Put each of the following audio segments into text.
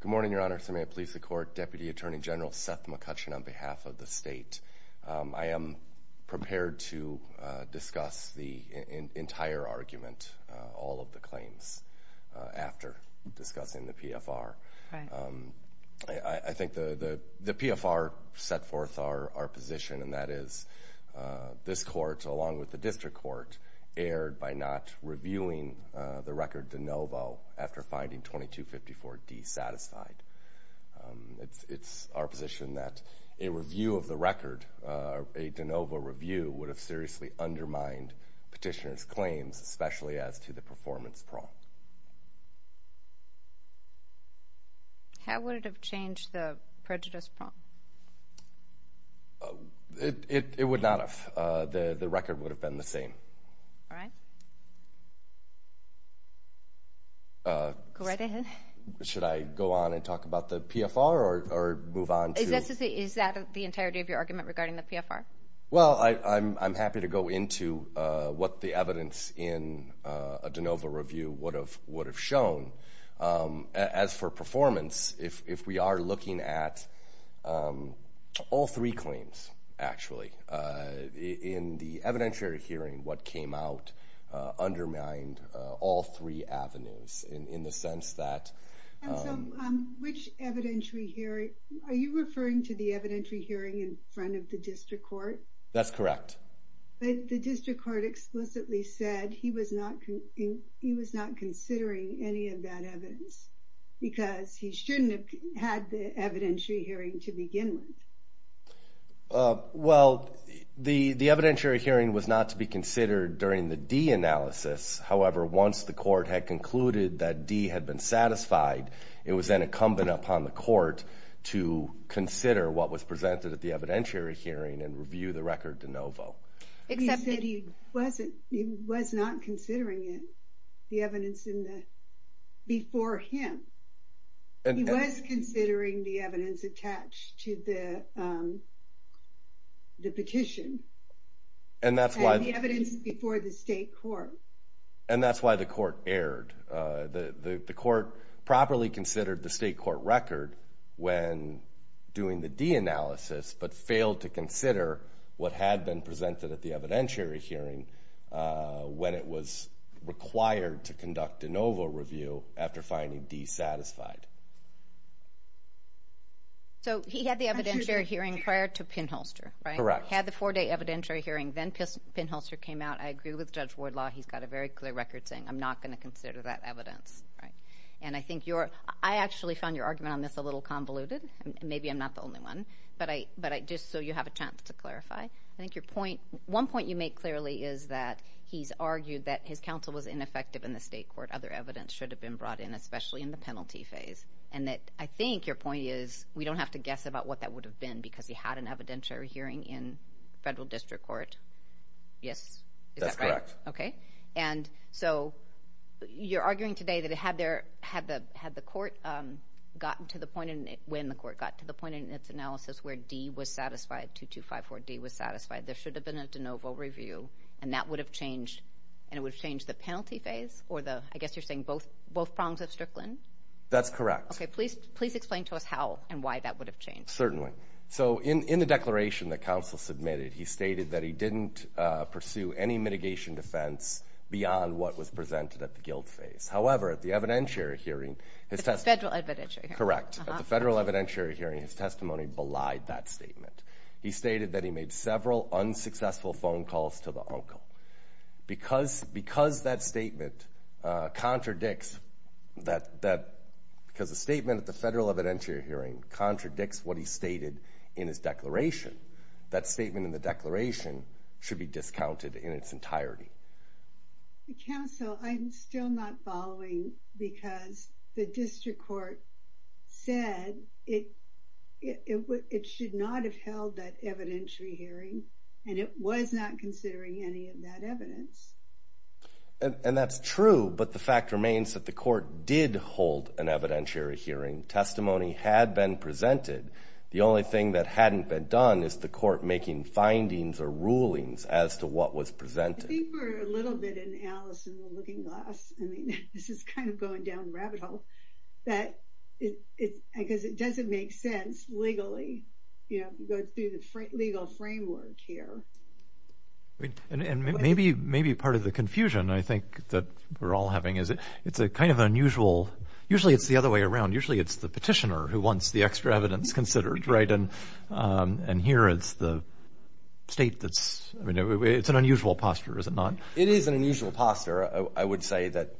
Good morning, Your Honor. So may it please the Court, Deputy Attorney General Seth McCutcheon on behalf of the state. I am prepared to discuss the entire argument, all of the claims, after discussing the PFR. I think the PFR set forth our position, and that is this Court, along with the District Court, erred by not reviewing the record de novo after finding 2254D satisfied. It's our position that a review of the record, a de novo review, would have seriously undermined petitioner's claims, especially as to the performance prong. How would it have changed the prejudice prong? It would not have. The record would have been the same. All right. Go right ahead. Should I go on and talk about the PFR or move on? Is that the entirety of your argument regarding the PFR? Well, I'm happy to go into what the evidence in a de novo review would have shown. As for performance, if we are looking at all three claims, actually, in the evidentiary hearing, what came out undermined all three avenues in the sense that... And so, which was the evidentiary hearing in front of the District Court? That's correct. But the District Court explicitly said he was not considering any of that evidence, because he shouldn't have had the evidentiary hearing to begin with. Well, the evidentiary hearing was not to be considered during the D analysis. However, once the Court had concluded that D had been satisfied, it was then presented at the evidentiary hearing and reviewed the record de novo. He said he was not considering it, the evidence before him. He was considering the evidence attached to the petition and the evidence before the State Court. And that's why the Court erred. The Court properly considered the State analysis, but failed to consider what had been presented at the evidentiary hearing when it was required to conduct de novo review after finding D satisfied. So he had the evidentiary hearing prior to Pinholster, right? Correct. He had the four-day evidentiary hearing, then Pinholster came out. I agree with Judge Wardlaw. He's got a very clear record saying, I'm not going to consider that evidence. And I think you're... I actually found your argument on this a little convoluted. Maybe I'm not the But I... but I... just so you have a chance to clarify. I think your point... one point you make clearly is that he's argued that his counsel was ineffective in the State Court. Other evidence should have been brought in, especially in the penalty phase. And that, I think, your point is we don't have to guess about what that would have been because he had an evidentiary hearing in Federal District Court. Yes? That's correct. Okay. And so you're arguing today that had there... had the... had the court gotten to the point in... when the court got to the point in its analysis where D was satisfied, 2254 D was satisfied, there should have been a de novo review and that would have changed... and it would have changed the penalty phase or the... I guess you're saying both... both prongs of Strickland? That's correct. Okay. Please... please explain to us how and why that would have changed. Certainly. So in the declaration that counsel submitted, he stated that he didn't pursue any mitigation defense beyond what was presented at the guilt phase. However, at the evidentiary hearing, his testimony... Federal evidentiary hearing. Correct. At the Federal evidentiary hearing, his testimony belied that statement. He stated that he made several unsuccessful phone calls to the uncle. Because... because that statement contradicts that... that... because the statement at the Federal evidentiary hearing contradicts what he stated in his declaration, that statement in the declaration should be discounted in its entirety. Counsel, I'm still not following because the district court said it... it... it should not have held that evidentiary hearing and it was not considering any of that evidence. And that's true, but the fact remains that the court did hold an evidentiary hearing. Testimony had been presented. The only thing that hadn't been done is the court making findings or rulings as to what was presented. I think we're a little bit in Alice in the Looking Glass. I mean, this is kind of going down the rabbit hole that it... it... because it doesn't make sense legally, you know, to go through the legal framework here. And maybe... maybe part of the confusion I think that we're all having is it... it's a kind of unusual... usually it's the other way around. Usually it's the petitioner who wants the extra evidence considered, right? And... and here it's the state that's... I mean, it's an unusual posture, is it not? It is an unusual posture. I would say that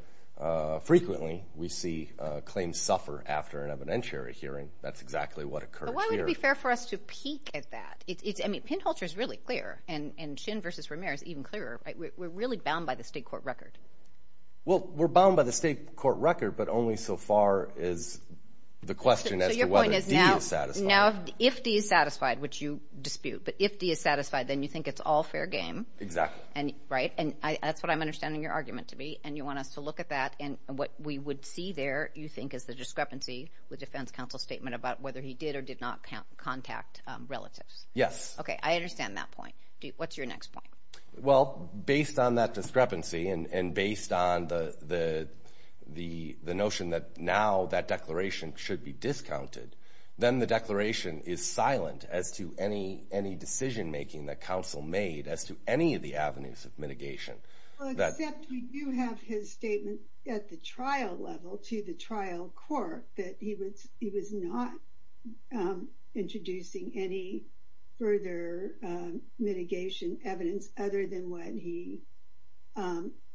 frequently we see claims suffer after an evidentiary hearing. That's exactly what occurs here. But why would it be fair for us to peek at that? It's... I mean, Pinholtzer is really clear and... and Shin versus Romare is even clearer, right? We're really bound by the state court record. Well, we're bound by the state court record, but only so far as the question as to whether D is satisfied. So your point is now... now if D is satisfied, which you dispute, but if D is satisfied, then you think it's all fair game. Exactly. And... right? And I... that's what I'm understanding your argument to be. And you want us to look at that and what we would see there, you think, is the discrepancy with defense counsel's statement about whether he did or did not count... contact relatives. Yes. Okay. I understand that point. What's your next point? Well, based on that discrepancy and... and based on the... the... the notion that now that declaration should be discounted, then the declaration is silent as to any... any decision making that counsel made as to any of the avenues of mitigation. Well, except we do have his statement at the trial level to the trial court that he was... he was not introducing any further mitigation evidence other than what he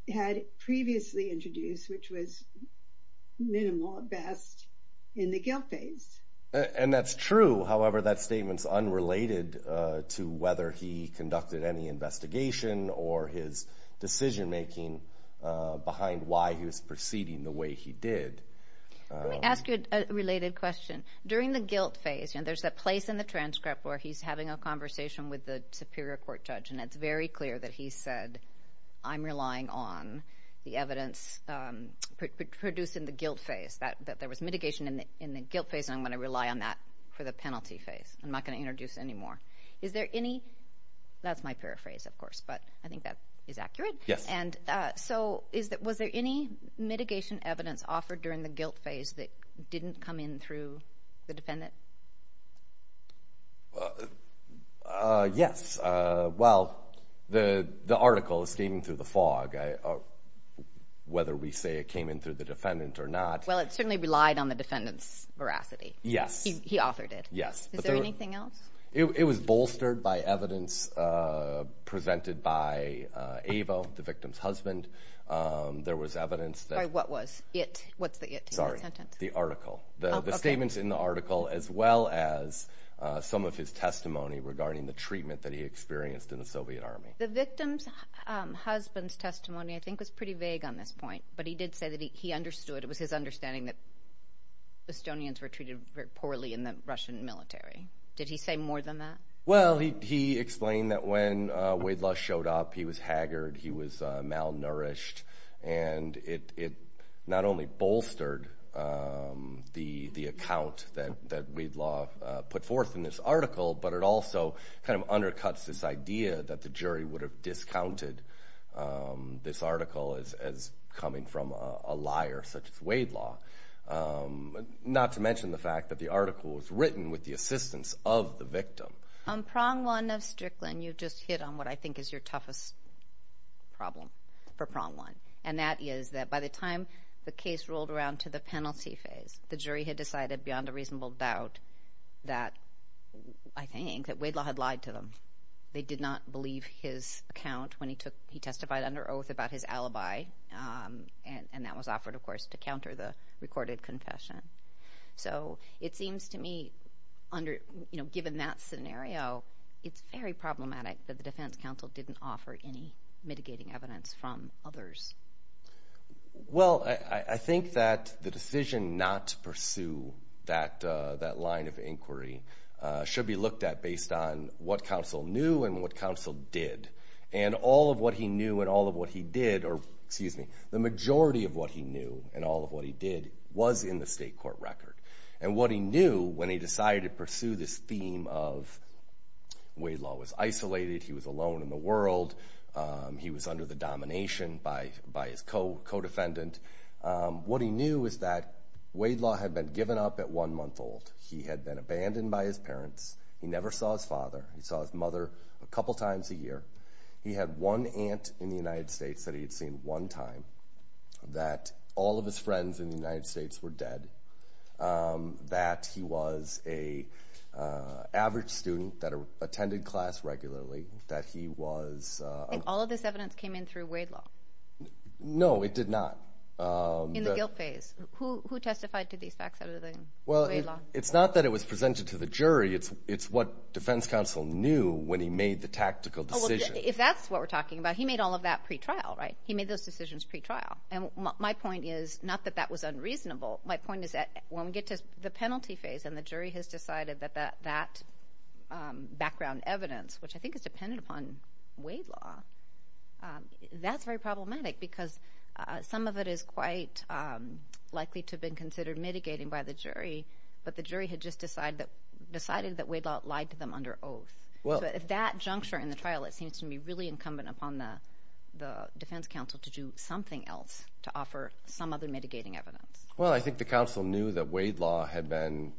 had previously introduced, which was minimal at best in the guilt phase. And that's true. However, that statement's unrelated to whether he conducted any investigation or his decision making behind why he was proceeding the way he did. Let me ask you a related question. During the guilt phase, you know, there's a place in the transcript where he's having a conversation with the superior court judge, and it's very clear that he said, I'm relying on the evidence produced in the guilt phase, that... that there was mitigation in the... in the guilt phase, and I'm going to rely on that for the penalty phase. I'm not going to introduce any more. Is there any... that's my paraphrase, of course, but I think that is accurate. Yes. And so is that... was there any mitigation evidence offered during the guilt phase that didn't come in through the defendant? Yes. Well, the... the article is steaming through the fog. Whether we say it came in through the defendant or not... Well, it certainly relied on the defendant's veracity. Yes. He authored it. Yes. Is there anything else? It was bolstered by evidence presented by Ava, the victim's husband. There was evidence that... What was it? What's the sentence? Sorry. The article. The statements in the article, as well as some of his testimony regarding the treatment that he experienced in the Soviet Army. The victim's husband's testimony, I think, was pretty vague on this point, but he did say that he... he understood. It was his understanding that Estonians were treated very poorly in the Russian military. Did he say more than that? Well, he... he explained that when Wade Lush showed up, he was haggard, he was malnourished, and it... it not only bolstered the... the account that... that Wade Lush put forth in this article, but it also kind of undercuts this idea that the jury would have discounted this article as... as coming from a liar such as Wade Lush. Not to mention the fact that the article was written with the assistance of the victim. On prong one of Strickland, you just hit on what I think is your toughest problem for prong one, and that is that by the time the case rolled around to the penalty phase, the jury had decided beyond a reasonable doubt that, I think, that Wade Lush had lied to them. They did not believe his account when he took... he testified under oath about his alibi, and... and that was offered, of course, to counter the recorded confession. So, it seems to me under, you know, given that scenario, it's very problematic that the defense counsel didn't offer any mitigating evidence from others. Well, I... I think that the decision not to pursue that... that line of inquiry should be looked at based on what counsel knew and what counsel did, and all of what he knew and all of what he did, or excuse me, the majority of what he knew and all of what he did was in the state court record. And what he knew when he decided to pursue this theme of Wade Lush was isolated, he was alone in the world, he was under the domination by... by his co... co-defendant, what he knew is that Wade Lush had been given up at one month old. He had been abandoned by his parents. He never saw his father. He saw his mother a couple times a year. He had one aunt in the United States that he had seen one time, that all of his friends in the United States were dead, that he was a average student that attended class regularly, that he was... And all of this evidence came in through Wade Law? No, it did not. In the guilt phase, who... who testified to these facts out of the Wade Law? Well, it's not that it was presented to the jury, it's... knew when he made the tactical decision. If that's what we're talking about, he made all of that pre-trial, right? He made those decisions pre-trial. And my point is, not that that was unreasonable, my point is that when we get to the penalty phase and the jury has decided that that... that background evidence, which I think is dependent upon Wade Law, that's very problematic because some of it is quite likely to have been considered mitigating by the jury, but the jury had just decided that... decided that Wade Law lied to them under oath. Well... So at that juncture in the trial, it seems to me really incumbent upon the... the defense counsel to do something else to offer some other mitigating evidence. Well, I think the counsel knew that Wade Law had been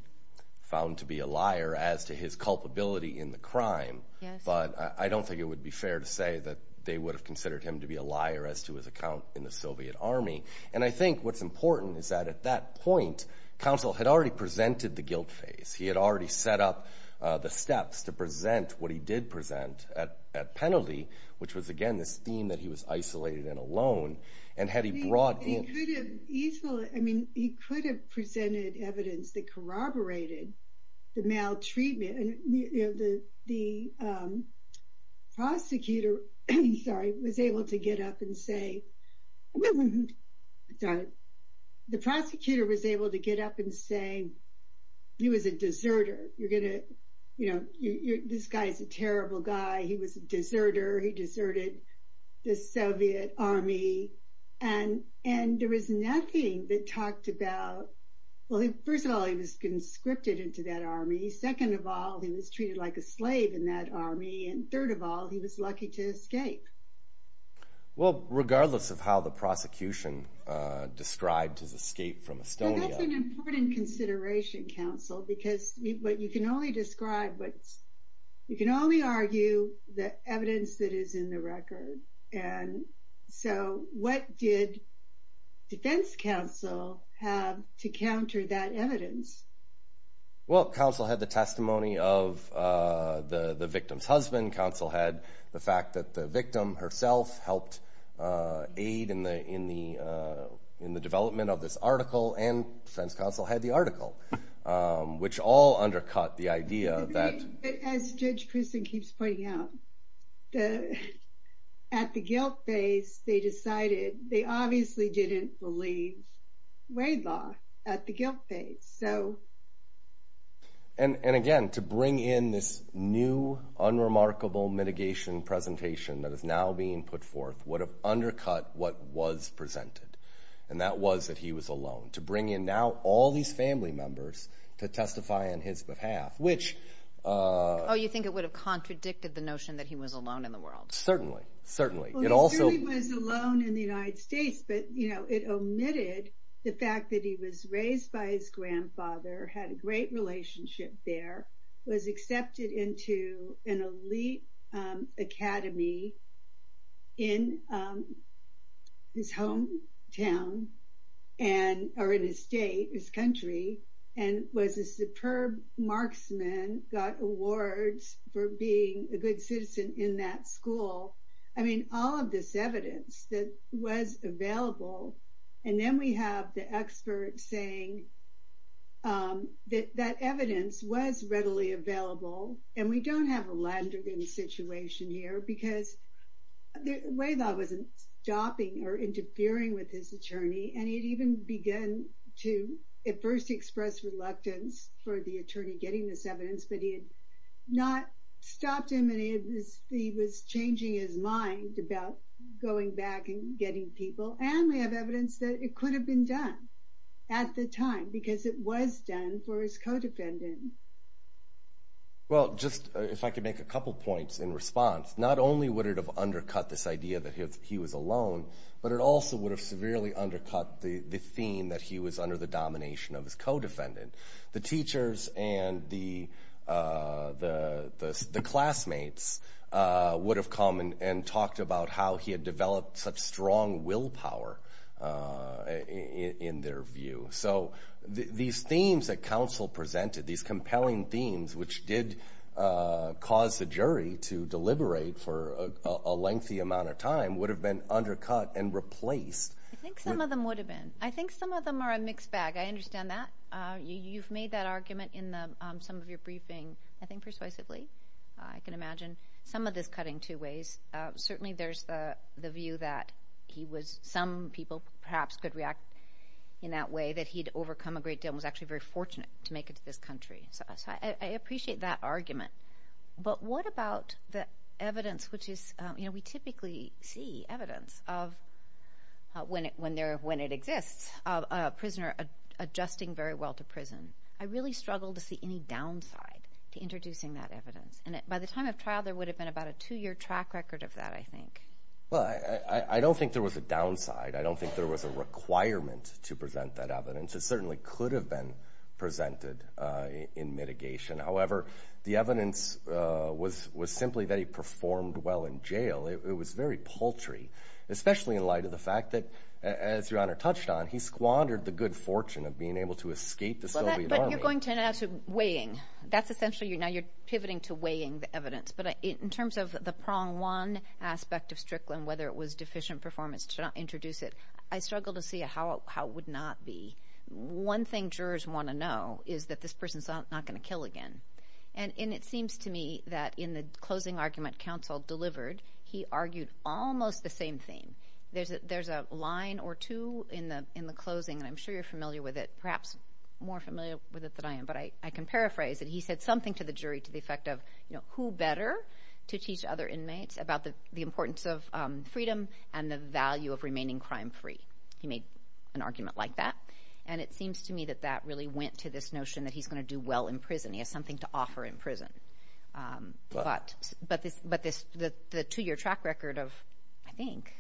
found to be a liar as to his culpability in the crime. Yes. But I don't think it would be fair to say that they would have considered him to be a liar as to his account in the Soviet Army. And I think what's important is that at that point, counsel had already presented the guilt phase. He had already set up the steps to present what he did present at... at penalty, which was, again, this theme that he was isolated and alone. And had he brought in... He could have easily... I mean, he could have presented evidence that corroborated the maltreatment. And the... the prosecutor, sorry, was able to get up and say... He was a deserter. You're going to, you know, this guy is a terrible guy. He was a deserter. He deserted the Soviet Army. And... and there was nothing that talked about... Well, first of all, he was conscripted into that army. Second of all, he was treated like a slave in that army. And third of all, he was lucky to escape. Well, regardless of how the prosecution described his escape from Estonia... Well, that's an important consideration, counsel, because what you can only describe... You can only argue the evidence that is in the record. And so what did defense counsel have to counter that evidence? Well, counsel had the testimony of the victim's husband. Counsel had the fact that the victim herself helped aid in the... in the development of this article. And defense counsel had the article, which all undercut the idea that... As Judge Christin keeps pointing out, at the guilt phase, they decided they obviously didn't believe Wade Law at the guilt phase. So... And again, to bring in this new, unremarkable mitigation presentation that is now being put forth would have undercut what was presented. And that was that he was alone. To bring in now all these family members to testify on his behalf, which... Oh, you think it would have contradicted the notion that he was alone in the world? Certainly. Certainly. It also... Well, he certainly was alone in the United States, but it omitted the fact that he was there, was accepted into an elite academy in his hometown and... Or in his state, his country, and was a superb marksman, got awards for being a good citizen in that school. I mean, all of this evidence that was available. And then we have the expert saying that that evidence was readily available. And we don't have a Landergan situation here because Wade Law wasn't stopping or interfering with his attorney. And he'd even begun to at first express reluctance for the attorney getting this evidence, but he had not stopped him. And he was changing his mind about going back and getting people. And we have evidence that it could have been done at the time, because it was done for his co-defendant. Well, just if I could make a couple of points in response, not only would it have undercut this idea that he was alone, but it also would have severely undercut the theme that he was under the domination of his co-defendant. The teachers and the classmates would have come and talked about how he had in their view. So these themes that counsel presented, these compelling themes, which did cause the jury to deliberate for a lengthy amount of time, would have been undercut and replaced. I think some of them would have been. I think some of them are a mixed bag. I understand that. You've made that argument in some of your briefing, I think persuasively. I can imagine some of this cutting two ways. Certainly there's the view that he was, some people perhaps could in that way, that he'd overcome a great deal, and was actually very fortunate to make it to this country. So I appreciate that argument. But what about the evidence, which we typically see evidence of when it exists, of a prisoner adjusting very well to prison? I really struggle to see any downside to introducing that evidence. And by the time of trial, there would have been about a two-year track record of that, I think. Well, I don't think there was a downside. I don't think there was a requirement to present that evidence. It certainly could have been presented in mitigation. However, the evidence was simply that he performed well in jail. It was very paltry, especially in light of the fact that, as Your Honor touched on, he squandered the good fortune of being able to escape the Soviet army. But you're going to end up weighing. That's essentially, now you're pivoting to weighing the evidence. But in terms of the prong one aspect of Strickland, whether it was deficient performance to not introduce it, I struggle to see how it would not be. One thing jurors want to know is that this person's not going to kill again. And it seems to me that in the closing argument counsel delivered, he argued almost the same thing. There's a line or two in the closing, and I'm sure you're familiar with it, perhaps more familiar with it than I am, but I can paraphrase it. He said something to the jury to the effect of, who better to teach other inmates about the importance of freedom and the value of remaining crime-free? He made an argument like that. And it seems to me that that really went to this notion that he's going to do well in prison. He has something to offer in prison. But the two-year track record of, I think,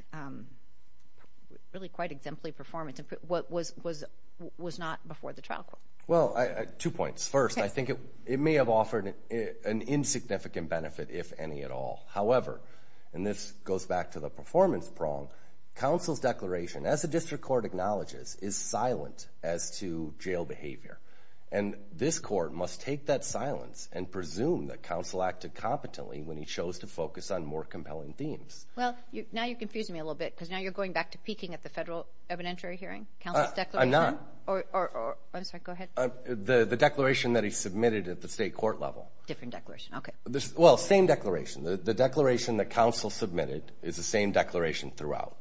really quite exemplary performance was not before the trial court. Well, two points. First, I think it may have offered an insignificant benefit, if any at all. However, and this goes back to the performance prong, counsel's declaration, as the district court acknowledges, is silent as to jail behavior. And this court must take that silence and presume that counsel acted competently when he chose to focus on more compelling themes. Well, now you're confusing me a little bit because now you're peeking at the federal evidentiary hearing, counsel's declaration. I'm not. I'm sorry, go ahead. The declaration that he submitted at the state court level. Different declaration, okay. Well, same declaration. The declaration that counsel submitted is the same declaration throughout.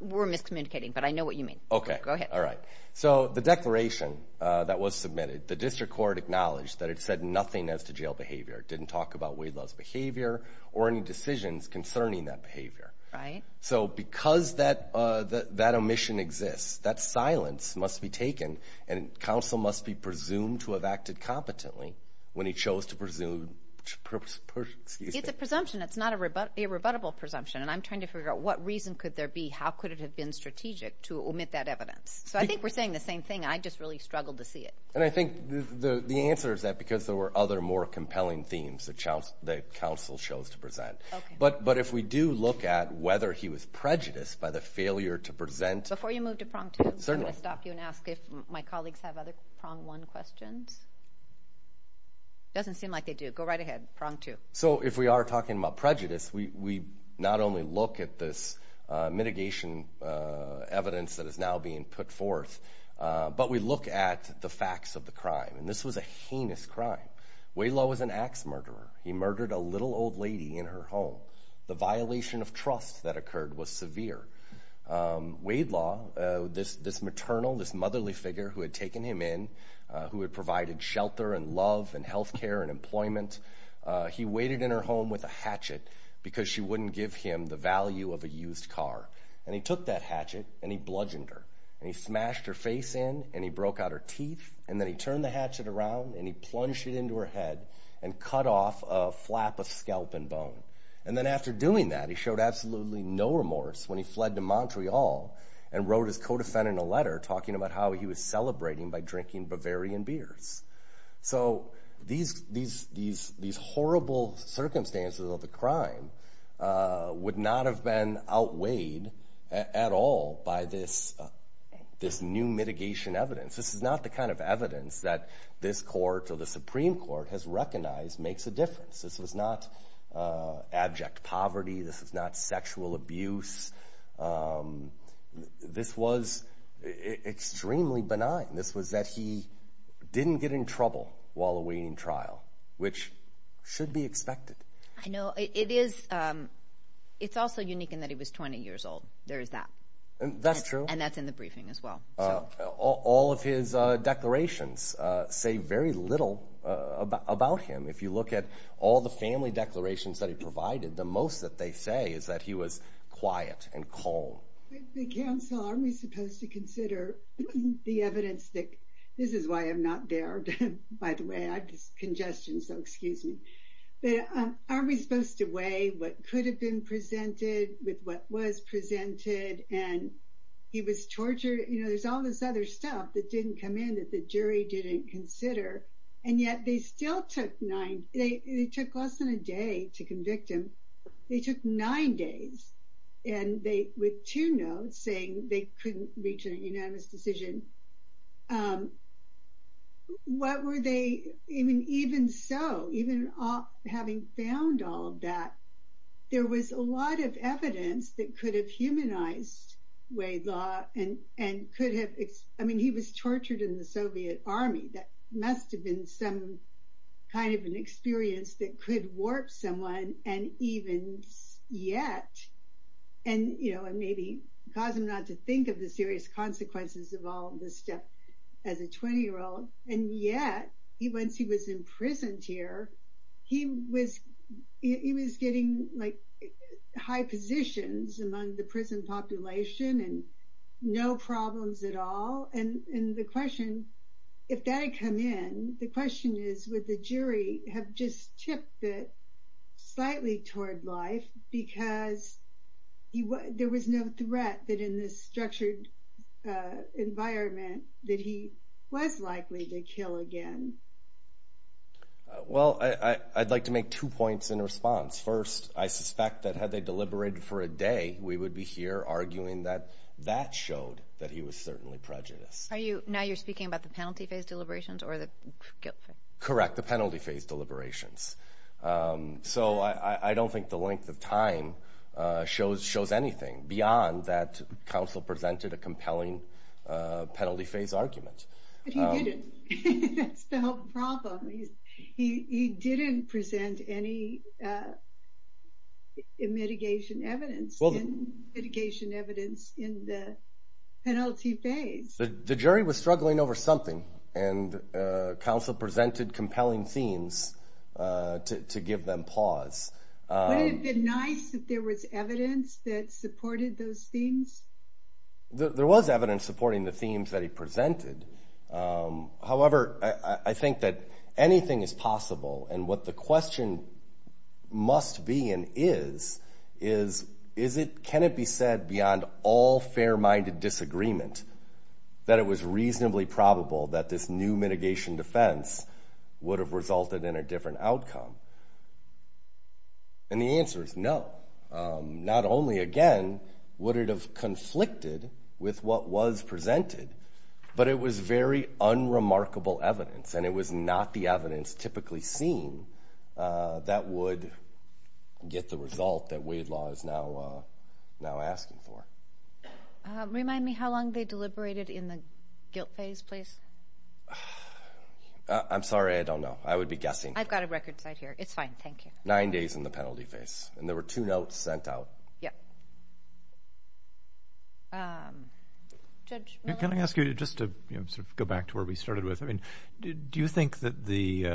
We're miscommunicating, but I know what you mean. Okay. Go ahead. All right. So, the declaration that was submitted, the district court acknowledged that it said nothing as to jail behavior. It didn't talk about Wade Love's behavior or any decisions concerning that behavior. Right. So, because that omission exists, that silence must be taken and counsel must be presumed to have acted competently when he chose to presume, excuse me. It's a presumption. It's not a rebuttable presumption. And I'm trying to figure out what reason could there be, how could it have been strategic to omit that evidence. So, I think we're saying the same thing. I just really struggled to see it. And I think the answer is that because there were other more compelling themes that counsel chose to present. But if we do look at whether he was prejudiced by the failure to present. Before you move to prong two, I'm going to stop you and ask if my colleagues have other prong one questions. Doesn't seem like they do. Go right ahead, prong two. So, if we are talking about prejudice, we not only look at this mitigation evidence that is now being put forth, but we look at the facts of the crime. And this was a heinous crime. Wade Love was an axe murderer. He murdered a little old lady in her home. The violation of trust that occurred was severe. Wade Love, this maternal, this motherly figure who had taken him in, who had provided shelter and love and healthcare and employment, he waited in her home with a hatchet because she wouldn't give him the value of a used car. And he took that hatchet and he bludgeoned her. And he smashed her face in and he broke out her teeth. And then he turned the hatchet around and he plunged it into her head and cut off a flap of scalp and bone. And then after doing that, he showed absolutely no remorse when he fled to Montreal and wrote his co-defendant a letter talking about how he was celebrating by drinking Bavarian beers. So, these horrible circumstances of the crime would not have been outweighed at all by this new mitigation evidence. This is not the kind of evidence that this court or the Supreme Court has recognized makes a difference. This was not abject poverty. This is not sexual abuse. This was extremely benign. This was that he didn't get in trouble while awaiting trial, which should be expected. I know. It's also unique in that he was 20 years old. There is that. That's true. And that's in the briefing as well. All of his declarations say very little about him. If you look at all the family declarations that he provided, the most that they say is that he was quiet and calm. The counsel, aren't we supposed to consider the evidence? This is why I'm not there, by the way. I have this congestion, so excuse me. But aren't we supposed to weigh what could have been presented with what was presented, and he was tortured? There's all this other stuff that didn't come in that the jury didn't consider, and yet they still took less than a day to convict him. They took nine days with two notes saying they couldn't reach a unanimous decision. I mean, even so, even having found all of that, there was a lot of evidence that could have humanized Weylau. I mean, he was tortured in the Soviet army. That must have been some kind of an experience that could warp someone, and even yet, and maybe cause him not to think the serious consequences of all this stuff as a 20-year-old, and yet, once he was imprisoned here, he was getting high positions among the prison population and no problems at all. The question, if that had come in, the question is would the jury have just tipped it slightly toward life because there was no threat that in this structured environment that he was likely to kill again? Well, I'd like to make two points in response. First, I suspect that had they deliberated for a day, we would be here arguing that that showed that he was certainly prejudiced. Are you, now you're speaking about the penalty phase deliberations or the guilt phase? Correct, the penalty phase deliberations. So I don't think the length of time shows anything beyond that counsel presented a compelling penalty phase argument. But he didn't. That's the whole problem. He didn't present any mitigation evidence in the penalty phase. The jury was struggling over something and counsel presented compelling themes to give them pause. Wouldn't it have been nice if there was evidence that supported those themes? There was evidence supporting the themes that he presented. However, I think that anything is possible. And what the question must be and is, is it, can it be said beyond all fair-minded disagreement that it was reasonably probable that this new mitigation defense would have resulted in a different outcome? And the answer is no. Not only, again, would it have conflicted with what was presented, but it was very unremarkable evidence and it was not the evidence typically seen that would get the result that Wade Law is now asking for. Remind me how long they deliberated in the guilt phase, please. I'm sorry. I don't know. I would be guessing. I've got a record site here. It's fine. Thank you. Nine days in the penalty phase and there were two notes sent out. Yeah. Judge Miller? Can I ask you just to sort of go back to where we started with? I mean, do you think that the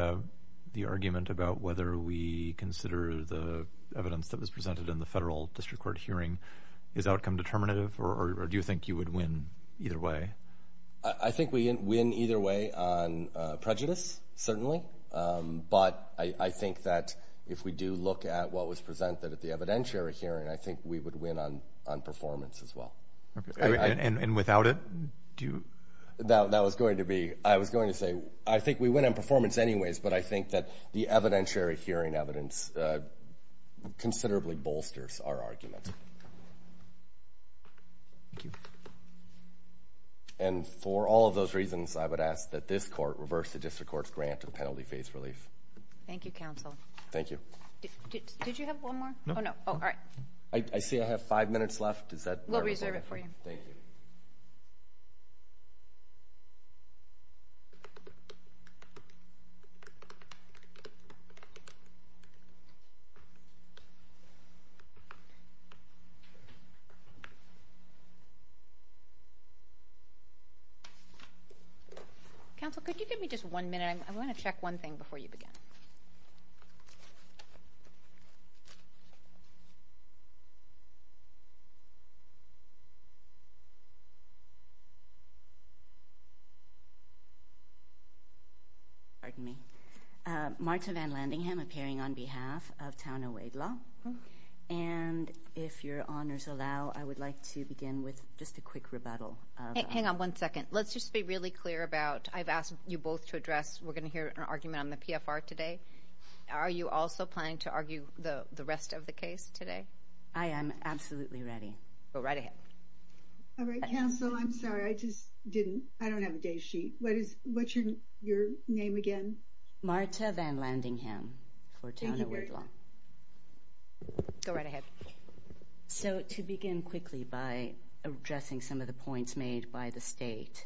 argument about whether we consider the evidence that was presented in the or do you think you would win either way? I think we win either way on prejudice, certainly. But I think that if we do look at what was presented at the evidentiary hearing, I think we would win on performance as well. And without it, do you? That was going to be, I was going to say, I think we went on performance anyways, but I think that the evidentiary hearing evidence considerably bolsters our argument. Thank you. And for all of those reasons, I would ask that this court reverse the district court's grant to the penalty phase relief. Thank you, counsel. Thank you. Did you have one more? No. Oh, no. Oh, all right. I see I have five minutes left. Is that? We'll reserve it for you. Thank you. Counsel, could you give me just one minute? I want to check one thing before you begin. Pardon me. Marta Van Landingham appearing on behalf of Town and Wade Law. And if your begin with just a quick rebuttal. Hang on one second. Let's just be really clear about, I've asked you both to address, we're going to hear an argument on the PFR today. Are you also planning to argue the rest of the case today? I am absolutely ready. Go right ahead. All right, counsel. I'm sorry. I just didn't, I don't have a day sheet. What is, what's your name again? Marta Van Landingham for Town and Wade Law. Go right ahead. So to begin quickly by addressing some of the points made by the state.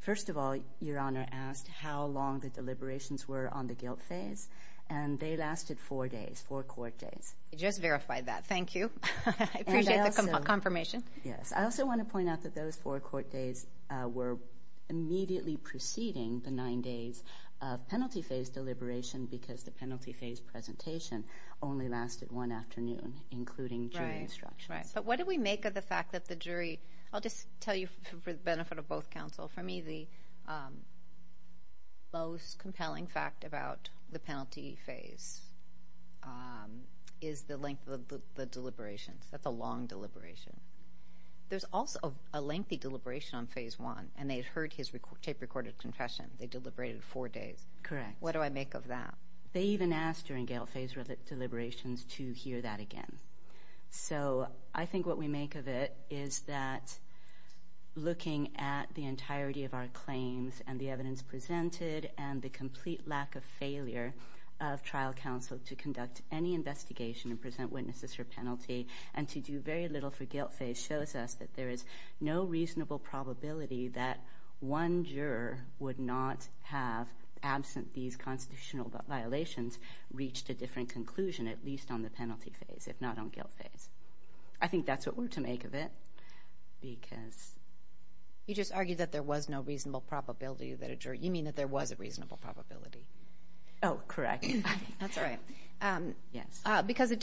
First of all, your honor asked how long the deliberations were on the guilt phase, and they lasted four days, four court days. I just verified that. Thank you. I appreciate the confirmation. Yes. I also want to point out that those four court days were immediately preceding the nine days of penalty phase deliberation because the penalty phase presentation only lasted one afternoon, including jury instructions. Right. But what do we make of the fact that the jury, I'll just tell you for the benefit of both counsel, for me, the most compelling fact about the penalty phase is the length of the deliberations. That's a long deliberation. There's also a lengthy deliberation on phase one, and they'd heard his tape recorded confession. They deliberated four days. Correct. What do I make of that? They even asked during guilt phase deliberations to hear that again. So I think what we make of it is that looking at the entirety of our claims and the evidence presented and the complete lack of failure of trial counsel to conduct any investigation and present witnesses for penalty and to do very little for guilt phase shows us that there is no reasonable probability that one juror would not have, absent these constitutional violations, reached a different conclusion, at least on the penalty phase, if not on guilt phase. I think that's what we're to make of it because... You just argued that there was no reasonable probability that a jury... You mean that there was a reasonable probability. Oh, correct. That's all right. Yes. Because a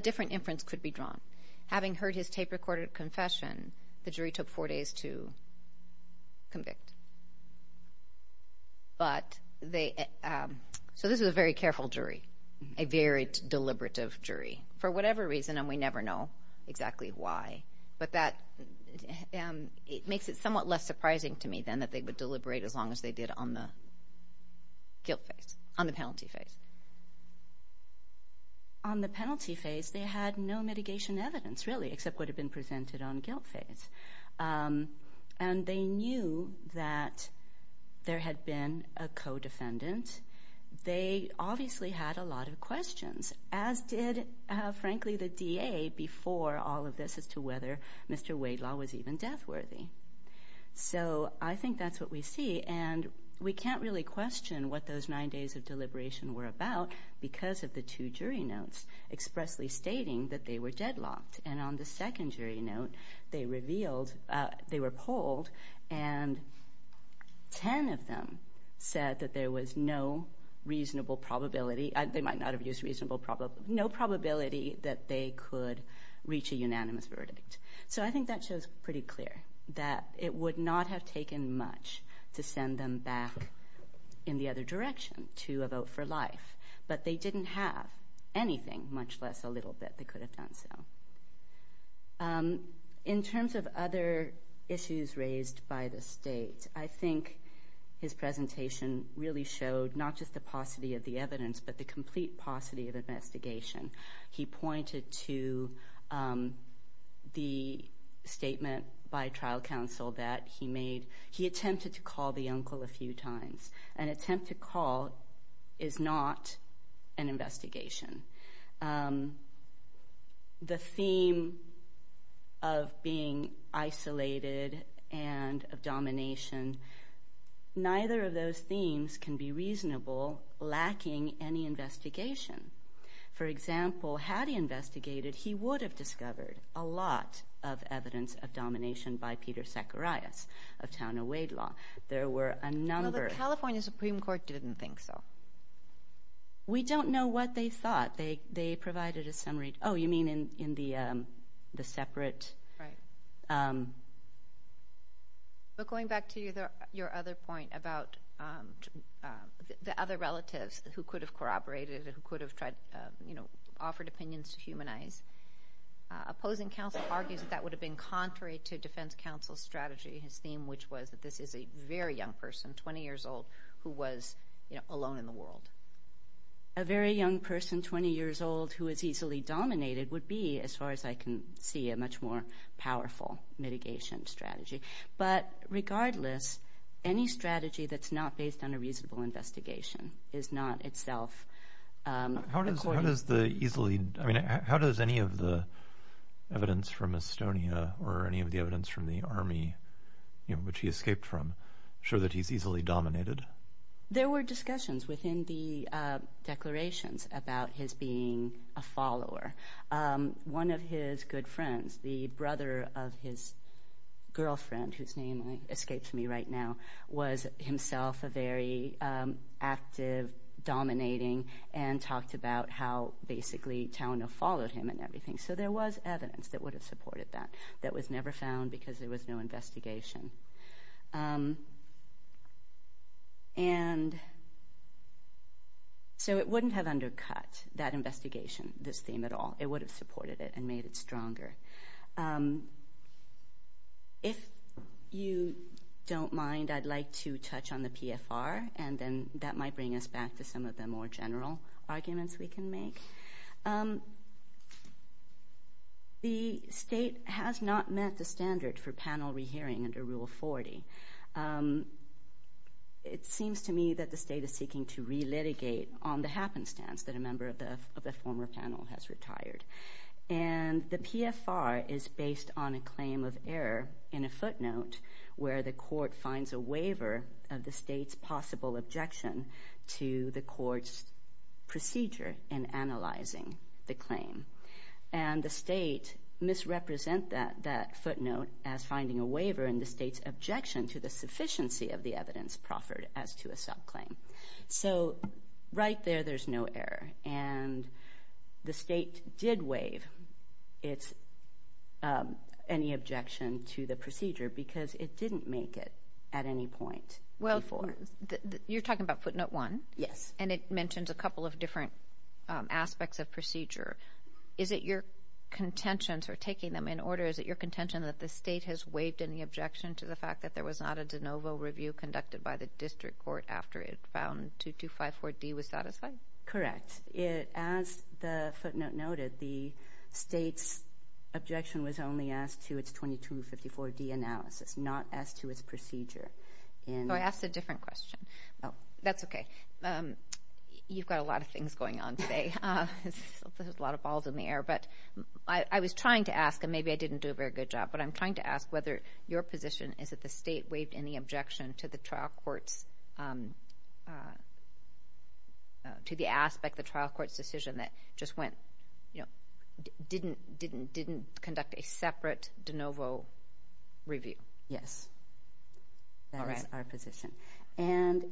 different inference could be drawn. Having heard his tape recorded confession, the jury took four days to convict. So this is a very careful jury, a very deliberative jury, for whatever reason, and we never know exactly why. But it makes it somewhat less surprising to me, then, that they would deliberate as long as they did on the guilt phase, on the penalty phase, they had no mitigation evidence, really, except what had been presented on guilt phase. And they knew that there had been a co-defendant. They obviously had a lot of questions, as did, frankly, the DA before all of this as to whether Mr. Wadelaw was even death-worthy. So I think that's what we see, and we can't really question what those nine days of deliberation were about because of the two jury notes expressly stating that they were deadlocked. And on the second jury note, they revealed... They were polled, and 10 of them said that there was no reasonable probability... They might not have used reasonable probability... No probability that they could reach a unanimous verdict. So I think that shows pretty clear that it would not have taken much to send them back in the other direction to a vote for life. But they didn't have anything, much less a little bit, that could have done so. In terms of other issues raised by the state, I think his presentation really showed not just the paucity of the evidence, but the complete paucity of investigation. He pointed to the statement by trial counsel that he attempted to call the uncle a few times. An attempt to call is not an investigation. The theme of being isolated and of domination, neither of those themes can be reasonable, lacking any investigation. For example, had he investigated, he would have discovered a lot of evidence of domination by Peter Zacharias of Town of Wade Law. There were a number... The California Supreme Court didn't think so. We don't know what they thought. They provided a summary... Oh, you mean in the separate... who could have corroborated, who could have offered opinions to humanize. Opposing counsel argues that that would have been contrary to defense counsel's strategy, his theme, which was that this is a very young person, 20 years old, who was alone in the world. A very young person, 20 years old, who is easily dominated would be, as far as I can see, a much more powerful mitigation strategy. But regardless, any strategy that's not based on a reasonable investigation is not itself... How does any of the evidence from Estonia or any of the evidence from the army, which he escaped from, show that he's easily dominated? There were discussions within the declarations about his being a follower. One of his good active dominating and talked about how basically Talino followed him and everything. So there was evidence that would have supported that, that was never found because there was no investigation. So it wouldn't have undercut that investigation, this theme at all. It would have supported it and made it stronger. If you don't mind, I'd like to touch on the PFR, and then that might bring us back to some of the more general arguments we can make. The state has not met the standard for panel re-hearing under Rule 40. It seems to me that the state is seeking to re-litigate on the happenstance that a member of the former panel has retired. And the PFR is based on a claim of error in a footnote where the court finds a waiver of the state's possible objection to the court's procedure in analyzing the claim. And the state misrepresent that footnote as finding a waiver in the state's objection to the sufficiency of the evidence proffered as to a subclaim. So right there, there's no error. And the state did waive any objection to the procedure because it didn't make it at any point before. Well, you're talking about footnote one. Yes. And it mentions a couple of different aspects of procedure. Is it your contention, or taking them in order, is it your contention that the state has waived any objection to the fact that there was not a de novo review conducted by the district court after it found 2254D was satisfying? Correct. As the footnote noted, the state's objection was only asked to its 2254D analysis, not as to its procedure. So I asked a different question. Oh, that's okay. You've got a lot of things going on today. There's a lot of balls in the air. But I was trying to ask, and maybe I didn't do a very good job, but I'm trying to ask whether your position is that the state waived any objection to the aspect of the trial court's decision that just went, you know, didn't conduct a separate de novo review? Yes. That is our position. And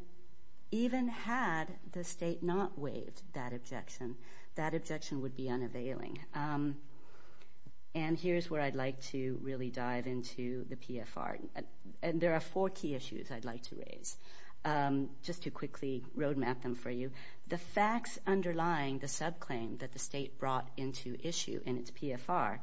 even had the state not waived that objection, that objection would be unavailing. And here's where I'd like to really dive into the PFR. And there are four key issues I'd like to raise, just to quickly road map them for you. The facts underlying the subclaim that the state brought into issue in its PFR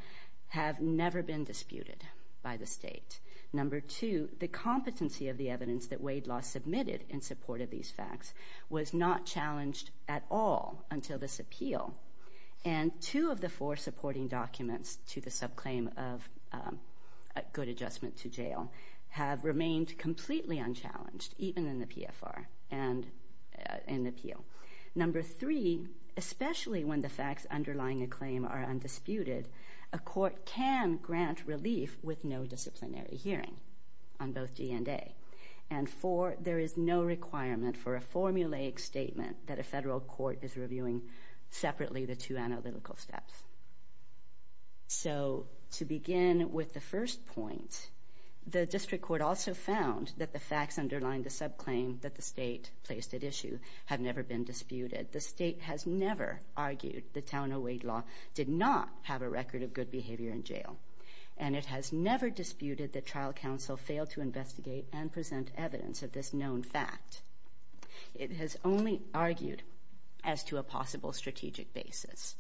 have never been disputed by the state. Number two, the competency of the evidence that Wade Law submitted in support of these facts was not challenged at all until this appeal. And two of the four supporting documents to the subclaim of a good adjustment to jail have remained completely unchallenged, even in the PFR and in the appeal. Number three, especially when the facts underlying a claim are undisputed, a court can grant relief with no disciplinary hearing on both D and A. And four, there is no requirement for a formulaic statement that a federal court is reviewing separately the two analytical steps. So to begin with the first point, the district court also found that the facts underlying the subclaim that the state placed at issue have never been disputed. The state has never argued that Town O'Wade Law did not have a record of good behavior in jail. And it has never disputed that trial counsel failed to review the facts on a strategic basis,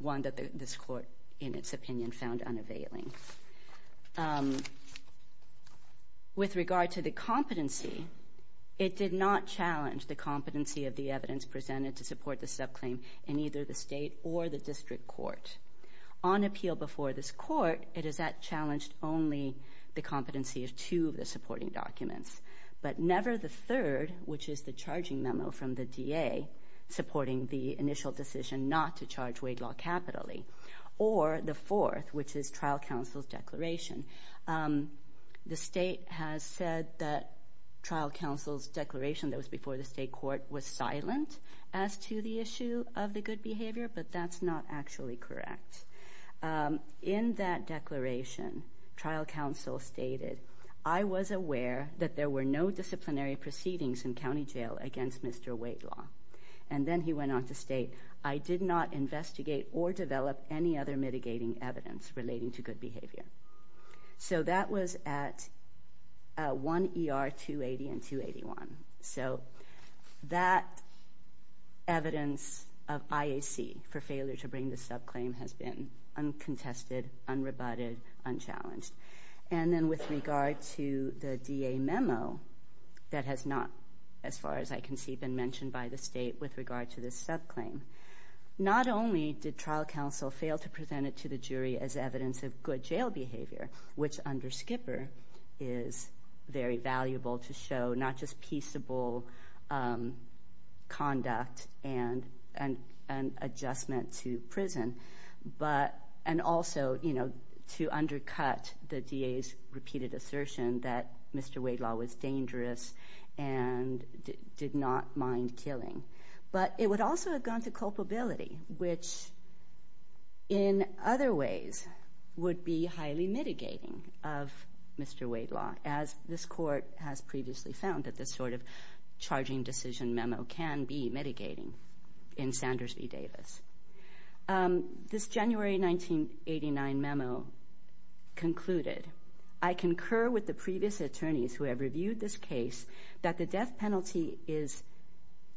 one that this court, in its opinion, found unavailing. With regard to the competency, it did not challenge the competency of the evidence presented to support the subclaim in either the state or the district court. On appeal before this court, it has challenged only the competency of two of the supporting documents, but never the decision not to charge Wade Law capitally. Or the fourth, which is trial counsel's declaration. The state has said that trial counsel's declaration that was before the state court was silent as to the issue of the good behavior, but that's not actually correct. In that declaration, trial counsel stated, I was aware that there were no disciplinary proceedings in county jail against Wade Law. And then he went on to state, I did not investigate or develop any other mitigating evidence relating to good behavior. So that was at 1 ER 280 and 281. So that evidence of IAC for failure to bring the subclaim has been uncontested, unrebutted, unchallenged. And then with regard to the DA memo, that has not, as far as I can see, been mentioned by the state with regard to this subclaim. Not only did trial counsel fail to present it to the jury as evidence of good jail behavior, which under Skipper is very valuable to show not just peaceable conduct and adjustment to Mr. Wade Law was dangerous and did not mind killing, but it would also have gone to culpability, which in other ways would be highly mitigating of Mr. Wade Law, as this court has previously found that this sort of charging decision memo can be mitigating in Sanders v. Davis. This January 1989 memo concluded, I concur with the previous attorneys who have reviewed this case that the death penalty is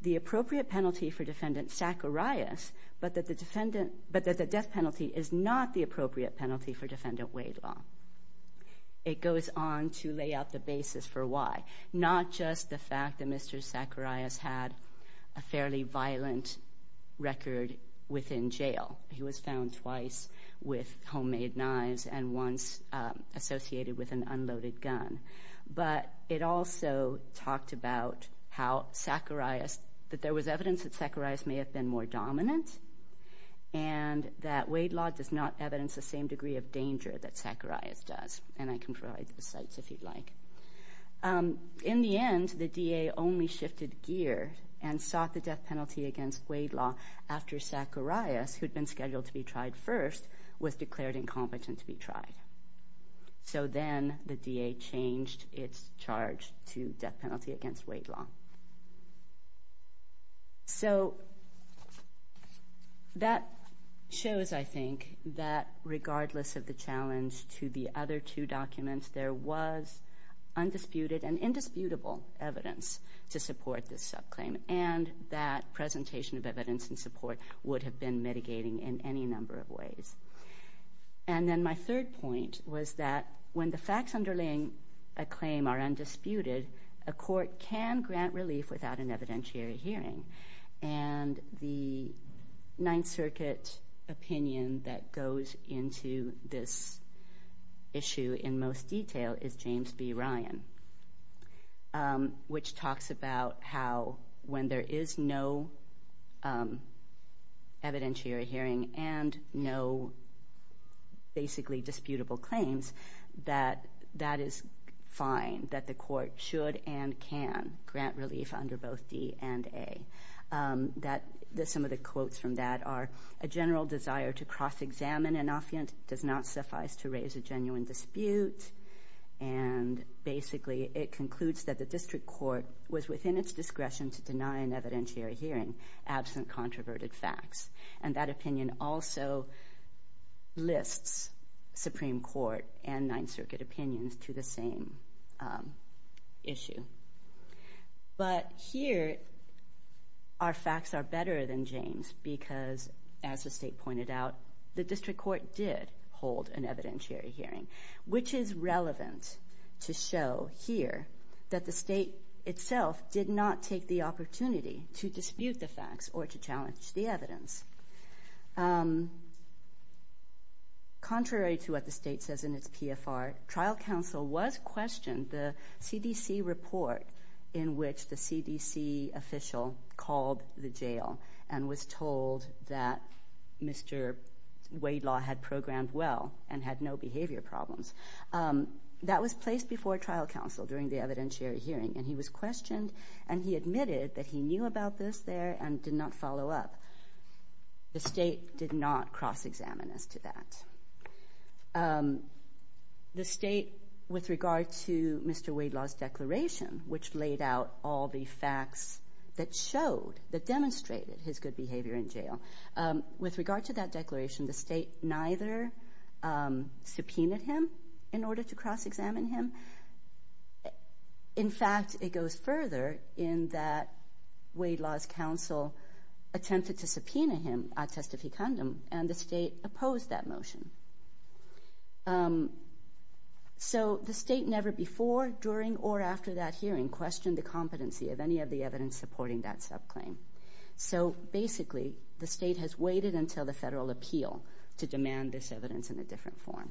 the appropriate penalty for defendant Zacharias, but that the defendant, but that the death penalty is not the appropriate penalty for defendant Wade Law. It goes on to lay out the basis for why. Not just the fact that Mr. Zacharias had a fairly violent record within jail. He was found twice with homemade knives and once associated with an unloaded gun. But it also talked about how Zacharias, that there was evidence that Zacharias may have been more dominant and that Wade Law does not evidence the same degree of danger that and sought the death penalty against Wade Law after Zacharias, who'd been scheduled to be tried first, was declared incompetent to be tried. So then the DA changed its charge to death penalty against Wade Law. So that shows, I think, that regardless of the challenge to the other two and that presentation of evidence and support would have been mitigating in any number of ways. And then my third point was that when the facts underlying a claim are undisputed, a court can grant relief without an evidentiary hearing. And the Ninth Circuit opinion that goes into this issue in most detail is James B. Ryan, which talks about how when there is no evidentiary hearing and no basically disputable claims, that that is fine. That the court should and can grant relief under both D and A. Some of the quotes from that are, a general desire to cross-examine an offiant does not suffice to raise a genuine dispute. And basically it concludes that the district court was within its discretion to deny an evidentiary hearing absent controverted facts. And that opinion also lists Supreme Court and Ninth Circuit as the state pointed out, the district court did hold an evidentiary hearing, which is relevant to show here that the state itself did not take the opportunity to dispute the facts or to challenge the evidence. Contrary to what the state says in its PFR, trial counsel was questioned the CDC report in which the CDC official called the jail and was told that Mr. Wade Law had programmed well and had no behavior problems. That was placed before trial counsel during the evidentiary hearing and he was questioned and he admitted that he knew about this there and did not follow up. The state did not cross-examine as to that. The state with regard to Mr. Wade Law's declaration, which laid out all the facts that showed, that demonstrated his good behavior in jail, with regard to that declaration, the state neither subpoenaed him in order to cross-examine him. In fact, it goes further in that Wade Law's counsel attempted to subpoena him at testificandum and the state opposed that motion. So the state never before, during, or after that hearing questioned the competency of any of the evidence supporting that subclaim. So basically, the state has waited until the federal appeal to demand this evidence in a different form.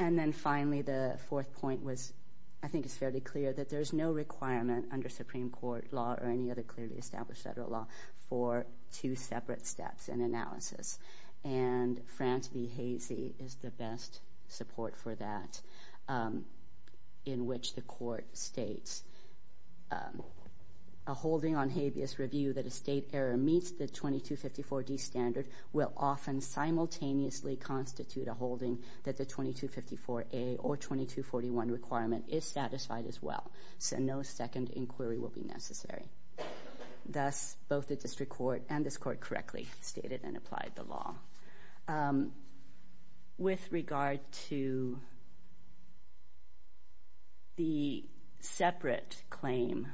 And then finally, the fourth point was, I think it's fairly clear, that there's no requirement under Supreme Court law or any other clearly established federal law for two separate steps in analysis. And Grant v. Hasey is the best support for that, in which the court states, a holding on habeas review that a state error meets the 2254D standard will often simultaneously constitute a holding that the 2254A or 2241 requirement is satisfied as well. So no second inquiry will be necessary. Thus, both the district court and this court correctly stated and applied the law. With regard to the separate claim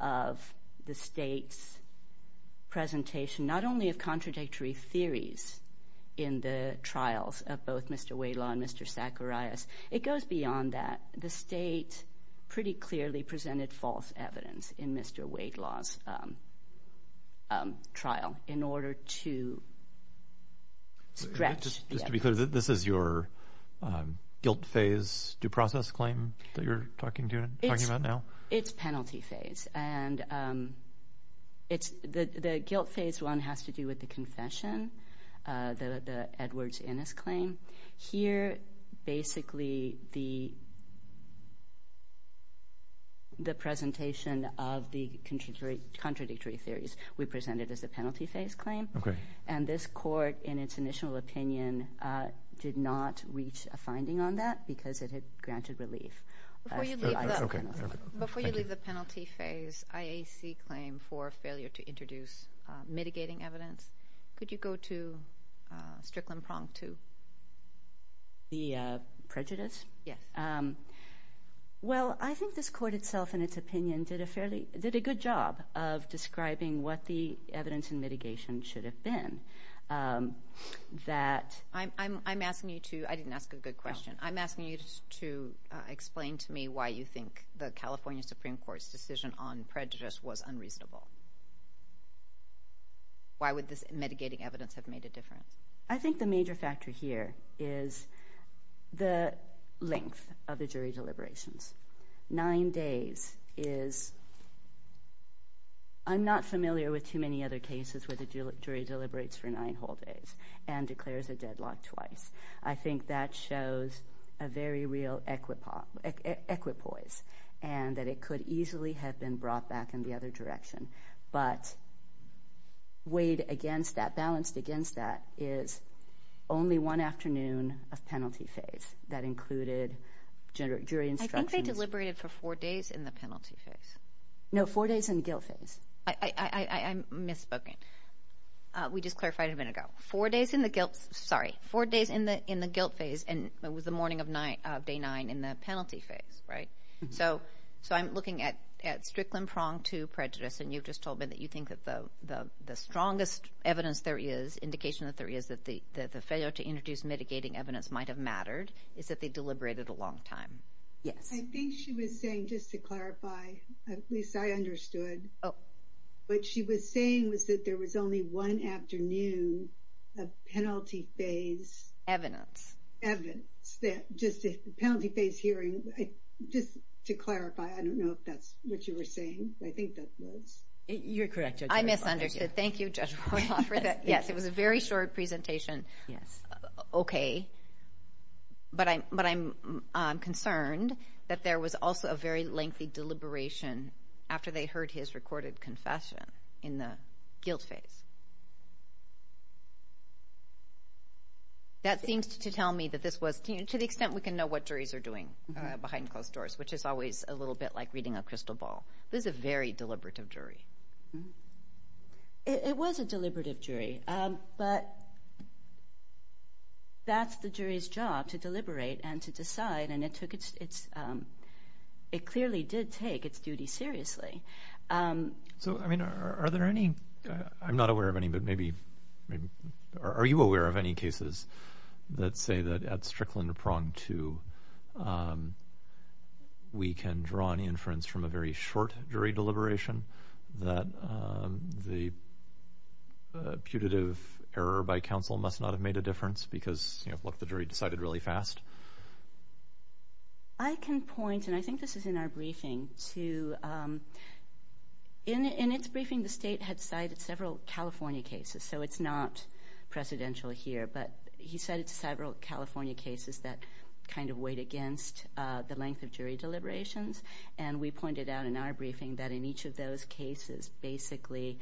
of the state's presentation, not only of contradictory theories in the trials of both Mr. Wade Law and Mr. Zacharias, it goes beyond that. The state pretty clearly presented false evidence in Mr. Wade Law's trial in order to stretch... Just to be clear, this is your guilt phase due process claim that you're talking about now? It's penalty phase. And the guilt phase one has to do with the confession, the Edwards-Innes claim. Here, basically, the presentation of the contradictory theories we presented as a penalty phase claim. And this court, in its initial opinion, did not reach a finding on that because it had granted relief. Before you leave the penalty phase IAC claim for failure to introduce mitigating evidence, could you go to Strickland Prong 2? The prejudice? Yes. Well, I think this court itself, in its opinion, did a good job of describing what the evidence and mitigation should have been. I didn't ask a good question. I'm asking you to explain to me why you think the California Supreme Court's decision on prejudice was unreasonable. Why would this mitigating evidence have made a difference? I think the major factor here is the length of the jury deliberations. Nine days is... I'm not familiar with too many other cases where the jury deliberates for nine whole days and declares a deadlock twice. I think that shows a very real equipoise and that it could easily have been brought back in the other direction. But weighed against that, balanced against that, is only one afternoon of penalty phase that included jury instructions. I think they deliberated for four days in the penalty phase. No, four days in the guilt phase. I'm misspoken. We just clarified a minute ago. Four days in the guilt phase, and it was the morning of day nine in the penalty phase. So I'm looking at Strickland Prong 2 prejudice, and you've just told me that you think that the strongest evidence there is, indication that there is, that the failure to introduce mitigating evidence might have mattered is that they deliberated a long time. Yes. I think she was saying, just to clarify, at least I understood, oh, what she was saying was that there was only one afternoon of penalty phase... Evidence. Evidence. Penalty phase hearing, just to clarify. I don't know if that's what you were saying. I think that was... You're correct, Judge Royoff. I misunderstood. Thank you, Judge Royoff, for that. Yes, it was a very short presentation. Yes. Okay. But I'm concerned that there was also a very lengthy deliberation after they heard his recorded confession in the guilt phase. That seems to tell me that this was... To the extent we can know what juries are doing behind closed doors, which is always a little bit like reading a crystal ball. This is a very deliberative jury. It was a deliberative jury, but that's the jury's job, to deliberate and to decide, and it clearly did take its duty seriously. So are there any... I'm not aware of any, but maybe... Are you aware of any cases that say that at Strickland Prong 2, we can draw any inference from a very short jury deliberation that the putative error by counsel must not have made a difference because, you know, look, the jury decided really fast? I can point, and I think this is in our briefing, to... In its briefing, the state had cited several California cases, so it's not presidential here, but he cited several California cases that kind of weighed against the length of those cases. Basically,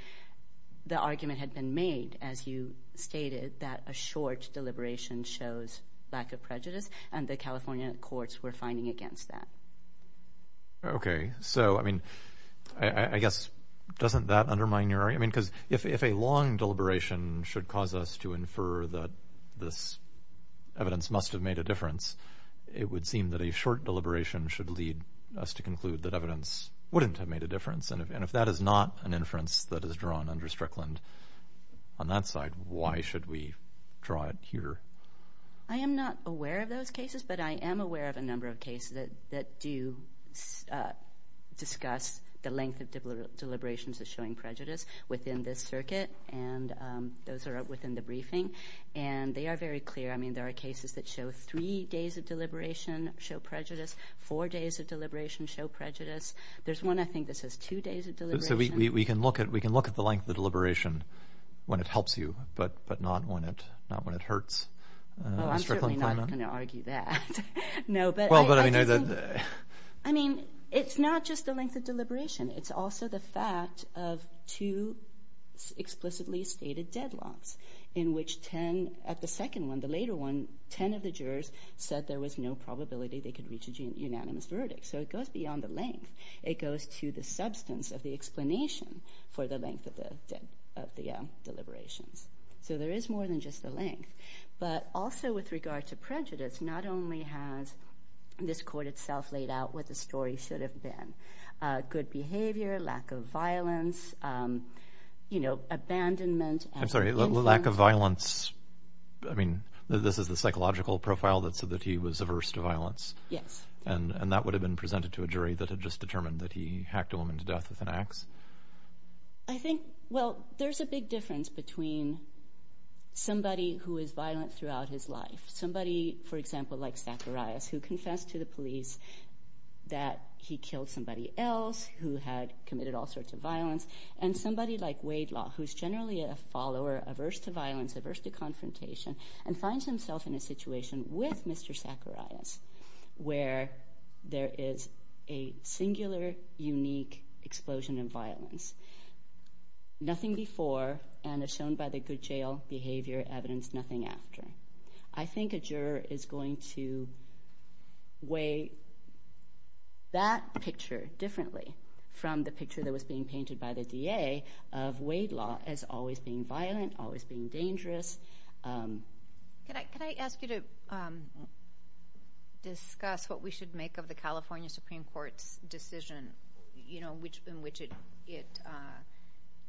the argument had been made, as you stated, that a short deliberation shows lack of prejudice, and the California courts were finding against that. Okay. So, I mean, I guess, doesn't that undermine your... I mean, because if a long deliberation should cause us to infer that this evidence must have made a difference, it would seem that a short is not an inference that is drawn under Strickland. On that side, why should we draw it here? I am not aware of those cases, but I am aware of a number of cases that do discuss the length of deliberations as showing prejudice within this circuit, and those are within the briefing, and they are very clear. I mean, there are cases that show three days of deliberation show prejudice. There's one, I think, that says two days of deliberation. So, we can look at the length of the deliberation when it helps you, but not when it hurts. Well, I'm certainly not going to argue that. No, but... Well, but I know that... I mean, it's not just the length of deliberation. It's also the fact of two explicitly stated deadlocks, in which 10... At the second one, the later one, 10 of the jurors said there was no unanimous verdict. So, it goes beyond the length. It goes to the substance of the explanation for the length of the deliberations. So, there is more than just the length, but also with regard to prejudice, not only has this court itself laid out what the story should have been, good behavior, lack of violence, abandonment... I'm sorry, lack of violence. I mean, this is the psychological profile that said that he was averse to violence. Yes. And that would have been presented to a jury that had just determined that he hacked a woman to death with an ax? I think, well, there's a big difference between somebody who is violent throughout his life, somebody, for example, like Zacharias, who confessed to the police that he killed somebody else, who had committed all sorts of violence, and somebody like Waidlaw, who's generally a follower, averse to violence, averse to confrontation, and finds himself in a situation with Mr. Zacharias, where there is a singular, unique explosion of violence. Nothing before, and as shown by the good jail behavior evidence, nothing after. I think a juror is going to weigh that picture differently from the picture that was being painted by the DA of Waidlaw as always being violent, always being dangerous. Can I ask you to discuss what we should make of the California Supreme Court's decision, in which it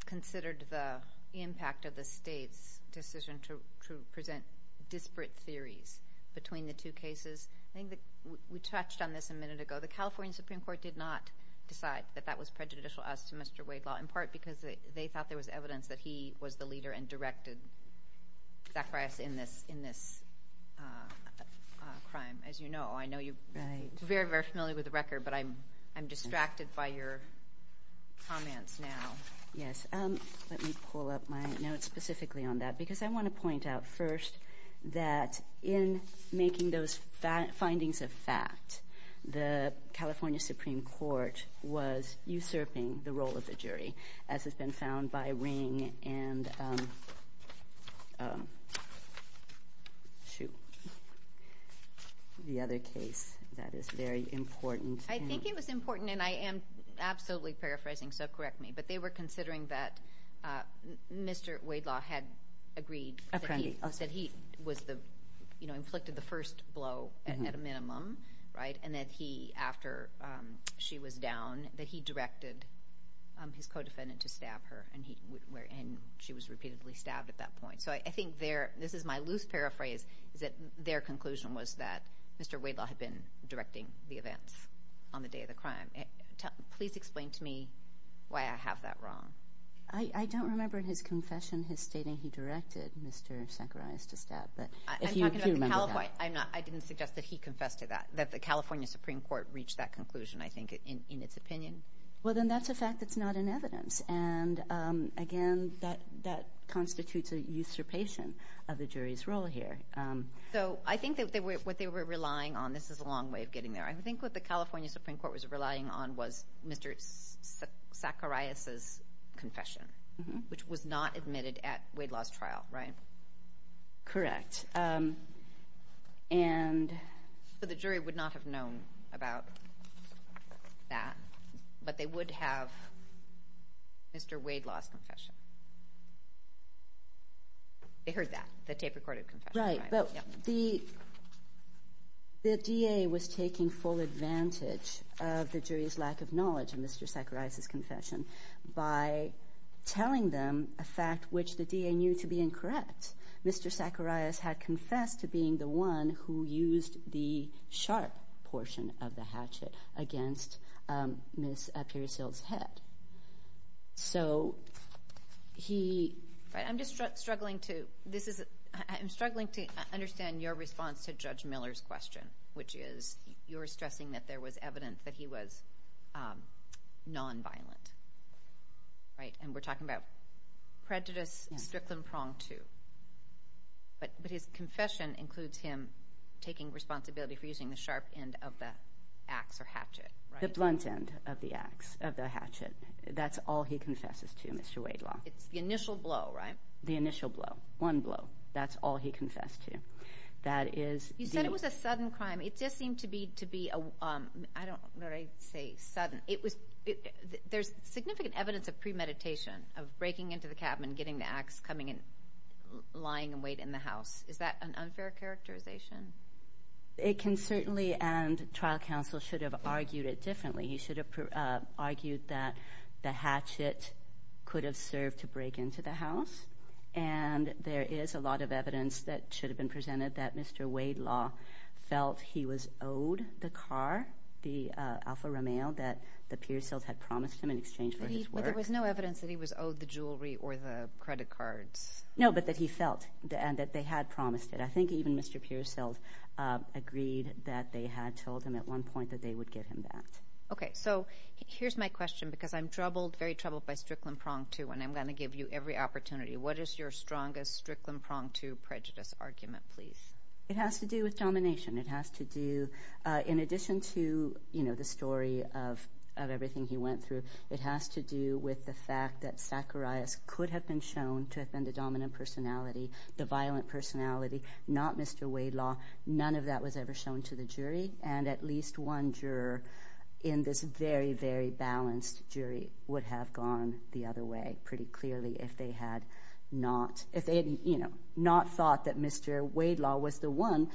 considered the impact of the state's decision to present disparate theories between the two cases? I think we touched on this a minute ago. The California Supreme Court did not decide that that was prejudicial as to Mr. Waidlaw, in part because they thought there was evidence that he was the leader and directed Zacharias in this crime. As you know, I know you're very, very familiar with the record, but I'm distracted by your comments now. Yes. Let me pull up my notes specifically on that, because I want to point out first that in making those findings a fact, the California Supreme Court was usurping the ring and the other case that is very important. I think it was important, and I am absolutely paraphrasing, so correct me, but they were considering that Mr. Waidlaw had agreed that he inflicted the first blow at a minimum, and that he, after she was down, that he directed his co-defendant to stab her, and she was repeatedly stabbed at that point. So I think this is my loose paraphrase, is that their conclusion was that Mr. Waidlaw had been directing the events on the day of the crime. Please explain to me why I have that wrong. I don't remember in his confession his stating he directed Mr. Zacharias to stab, but if you do remember that. I didn't suggest that he confessed to that, that the California Supreme Court reached that conclusion, I think, in its opinion. Well, then that's a fact that's not in evidence, and again, that constitutes a usurpation of the jury's role here. So I think that what they were relying on, this is a long way of getting there, I think what the California Supreme Court was relying on was Mr. Zacharias' confession, which was not admitted at Waidlaw's trial, right? Correct. But the jury would not have known about that, but they would have Mr. Waidlaw's confession. They heard that, the tape-recorded confession. Right, but the DA was taking full advantage of the jury's lack of knowledge of Mr. Zacharias' confession by telling them a fact which the DA knew to be incorrect. Mr. Zacharias had confessed to being the one who used the sharp portion of the hatchet against Ms. Pierisil's head. So he... Right, I'm just struggling to, this is, I'm struggling to understand your response to Judge Miller's question, which is you're stressing that there was evidence that he was non-violent, right? And we're talking about prejudice, strict and pronged too. But his confession includes him taking responsibility for using the sharp end of the axe or hatchet, right? The blunt end of the axe, of the hatchet, that's all he confesses to, Mr. Waidlaw. It's the initial blow, right? The initial blow, one blow, that's all he confessed to. That is... I don't know what I'd say, sudden. It was, there's significant evidence of premeditation, of breaking into the cabin, getting the axe, coming in, lying in wait in the house. Is that an unfair characterization? It can certainly, and trial counsel should have argued it differently. He should have argued that the hatchet could have served to break into the house. And there is a lot of evidence that should have been presented that Mr. Waidlaw felt he was owed the car, the Alfa Romeo, that the Pearsons had promised him in exchange for his work. But there was no evidence that he was owed the jewelry or the credit cards? No, but that he felt, and that they had promised it. I think even Mr. Pearsons agreed that they had told him at one point that they would get him that. Okay, so here's my question, because I'm troubled, very troubled by strict and pronged too, and I'm going to give you every opportunity. What is your strongest strict and pronged too prejudice argument, please? It has to do with domination. It has to do, in addition to, you know, the story of everything he went through, it has to do with the fact that Zacharias could have been shown to have been the dominant personality, the violent personality, not Mr. Waidlaw. None of that was ever shown to the jury, and at least one juror in this very, very balanced jury would have gone the other way pretty clearly if they had not, if they had, you know, not thought that Mr. Waidlaw was the one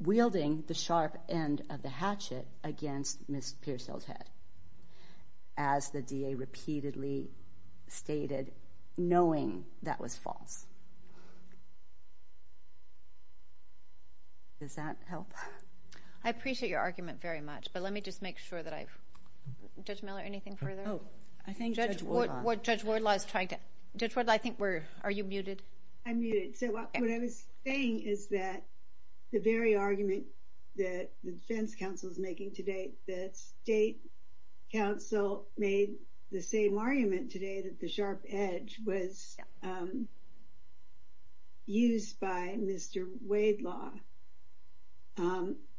wielding the sharp end of the hatchet against Ms. Pearsons' head, as the DA repeatedly stated, knowing that was false. Does that help? I appreciate your argument very much, but let me just make sure that I've, Judge Miller, anything further? Oh, I think Judge Wardlaw is trying to, Judge Wardlaw, I think we're, are you muted? I'm muted. So what I was saying is that the very argument that the defense counsel is making today, the state counsel made the same argument today that the sharp edge was used by Mr. Waidlaw,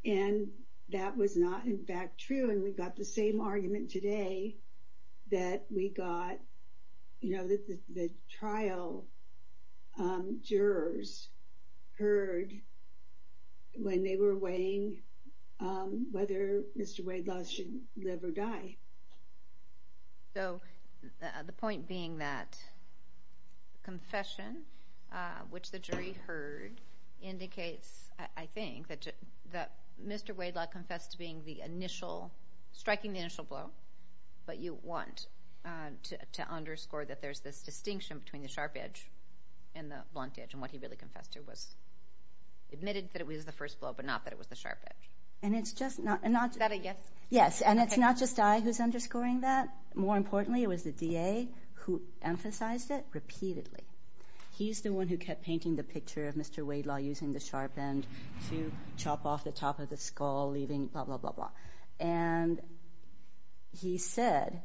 and that was not in fact true, and we got the same argument today that we got, you know, that the trial jurors heard when they were weighing whether Mr. Waidlaw should live or die. So the point being that confession, which the jury heard, indicates, I think, that Mr. Waidlaw confessed to being the initial, striking the initial blow, but you want to underscore that there's this distinction between the sharp edge and the blunt edge, and what he really confessed to was, admitted that it was the first blow, but not that it was the sharp edge. And it's just not, and not, yes, and it's not just I who's underscoring that. More importantly, it was the DA who emphasized it repeatedly. He's the one who kept painting the picture of Mr. Waidlaw using the sharp end to chop off the top of the skull, leaving blah, blah, blah, blah, and he said,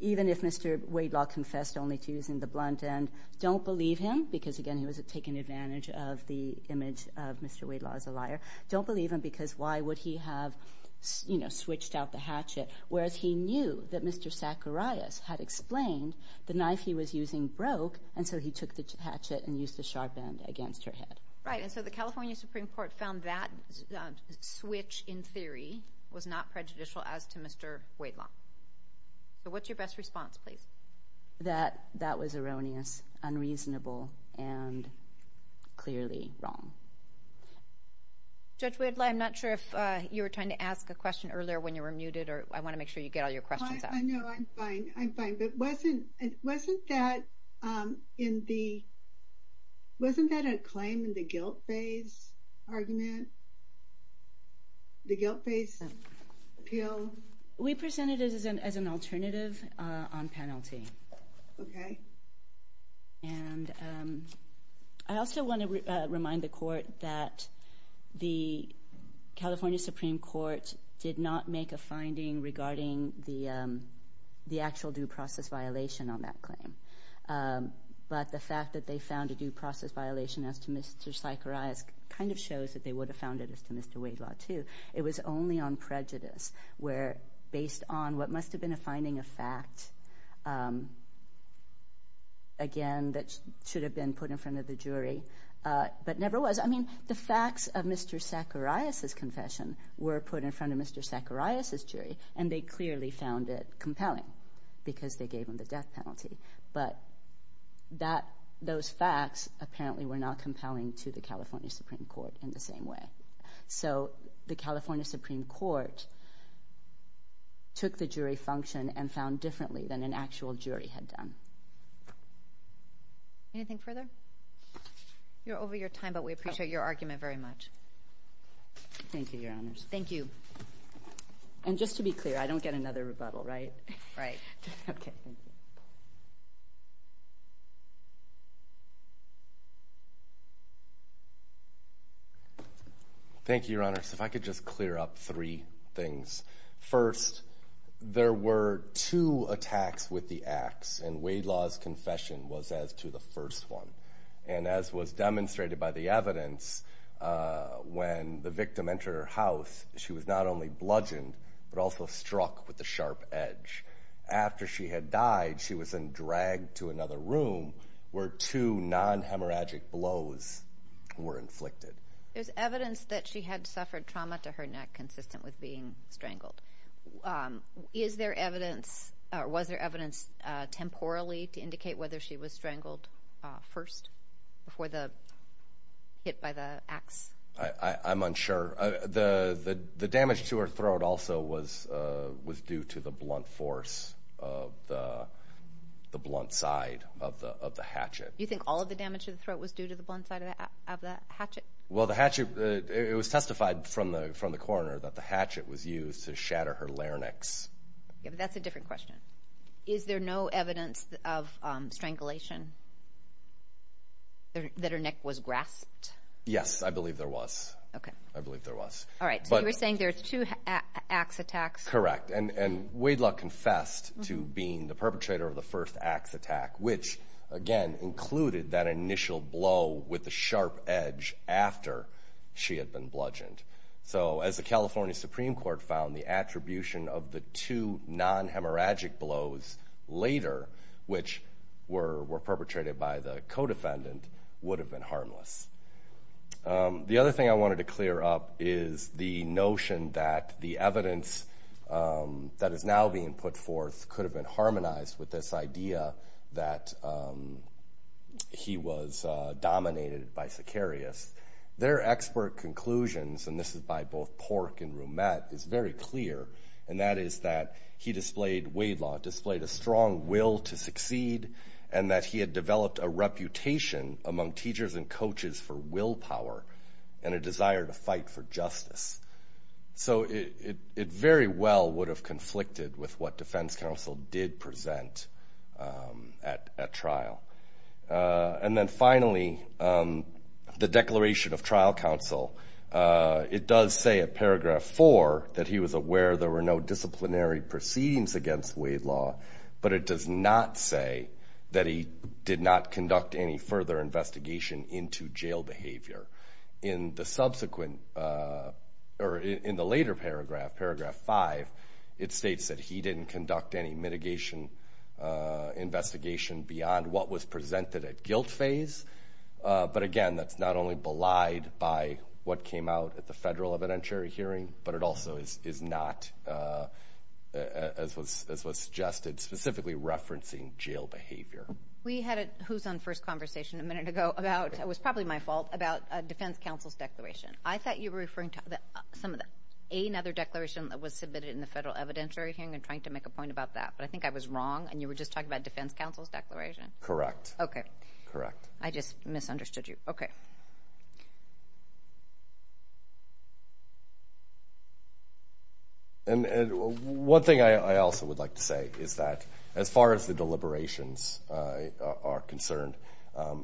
even if Mr. Waidlaw confessed only to using the blunt end, don't believe him, because again, he was taking advantage of the image of Mr. Waidlaw as a liar, don't believe him because why would he have, you know, switched out the hatchet, whereas he knew that Mr. Zacharias had explained the knife he was using broke, and so he took the hatchet and used the sharp end against her head. Right, and so the California Supreme Court found that switch, in theory, was not prejudicial as to Mr. Waidlaw. So what's your best response, please? That that was erroneous, unreasonable, and clearly wrong. Judge Waidlaw, I'm not sure if you were trying to ask a question earlier when you were muted, or I want to make sure you get all your questions out. I know, I'm fine, I'm fine, but wasn't that in the, wasn't that a claim in the Okay. And I also want to remind the Court that the California Supreme Court did not make a finding regarding the actual due process violation on that claim, but the fact that they found a due process violation as to Mr. Zacharias kind of shows that they would have found it as to Mr. Waidlaw, too. It was only on prejudice, where based on what must have been a finding of fact again, that should have been put in front of the jury, but never was. I mean, the facts of Mr. Zacharias' confession were put in front of Mr. Zacharias' jury, and they clearly found it compelling because they gave him the death penalty, but that, those facts apparently were not compelling to the California Supreme Court in the same way. So the California Supreme Court took the jury function and found differently than an actual jury had done. Anything further? You're over your time, but we appreciate your argument very much. Thank you, Your Honors. Thank you. And just to be clear, I don't get another rebuttal, right? Right. Okay. Thank you, Your Honors. If I could just clear up three things. First, there were two attacks with the axe, and Waidlaw's confession was as to the first one. And as was demonstrated by the evidence, when the victim entered her house, she was not only bludgeoned, but also struck with the sharp edge. After she had died, she was then dragged to another room where two non-hemorrhagic blows were inflicted. There's evidence that she had suffered trauma to her neck consistent with being strangled. Is there evidence, or was there evidence temporally to indicate whether she was strangled first before the hit by the axe? I'm unsure. The damage to her throat also was due to the blunt force of the blunt side of the hatchet. You think all of the damage to the throat was due to the blunt side of the hatchet? Well, the hatchet, it was testified from the coroner that the hatchet was used to shatter her larynx. That's a different question. Is there no evidence of strangulation? That her neck was grasped? Yes, I believe there was. Okay. I believe there was. All right. So you were saying there's two axe attacks? Correct. And Waidlaw confessed to being the perpetrator of the had been bludgeoned. So as the California Supreme Court found, the attribution of the two non-hemorrhagic blows later, which were perpetrated by the co-defendant, would have been harmless. The other thing I wanted to clear up is the notion that the evidence that is now being put forth could have been harmonized with this idea that he was and this is by both Pork and Roumette, is very clear. And that is that he displayed, Waidlaw, displayed a strong will to succeed and that he had developed a reputation among teachers and coaches for willpower and a desire to fight for justice. So it very well would have conflicted with what defense counsel did present at trial. And then finally, the Declaration of Trial Counsel, it does say at paragraph 4 that he was aware there were no disciplinary proceedings against Waidlaw. But it does not say that he did not conduct any further investigation into jail behavior. In the subsequent, or in the later paragraph, paragraph 5, it states that he didn't conduct any mitigation investigation beyond what was presented at guilt phase. But again, that's not only belied by what came out at the federal evidentiary hearing, but it also is not, as was suggested, specifically referencing jail behavior. We had a who's on first conversation a minute ago about, it was probably my fault, about a defense counsel's declaration. I thought you were referring to some of the, another declaration that was submitted in the federal evidentiary hearing and trying to make a point about that. But I think I was wrong and you were just talking about defense counsel's declaration. Correct. Okay. Correct. I just misunderstood you. Okay. And one thing I also would like to say is that as far as the deliberations are concerned,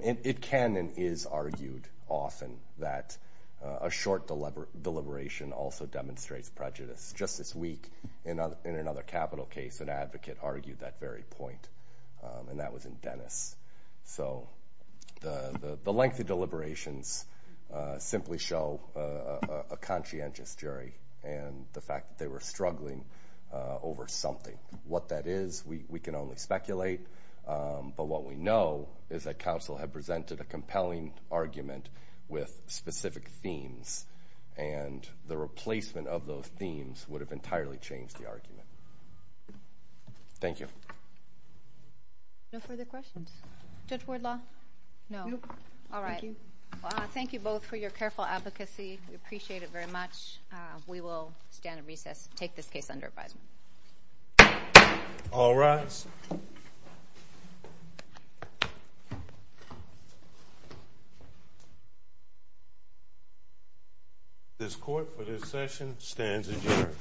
it can and is argued often that a short deliberation also demonstrates prejudice. Just this week, in another capital case, an advocate argued that very point. And that was in Dennis. So the lengthy deliberations simply show a conscientious jury and the fact that they were struggling over something. What that is, we can only speculate. But what we know is that counsel had presented a compelling argument with specific themes. And the replacement of those themes would have entirely changed the argument. Thank you. No further questions? Judge Wardlaw? No. All right. Thank you. Thank you both for your careful advocacy. We appreciate it very much. We will stand at recess, take this case under advisement. All rise. This court, for this session, stands adjourned.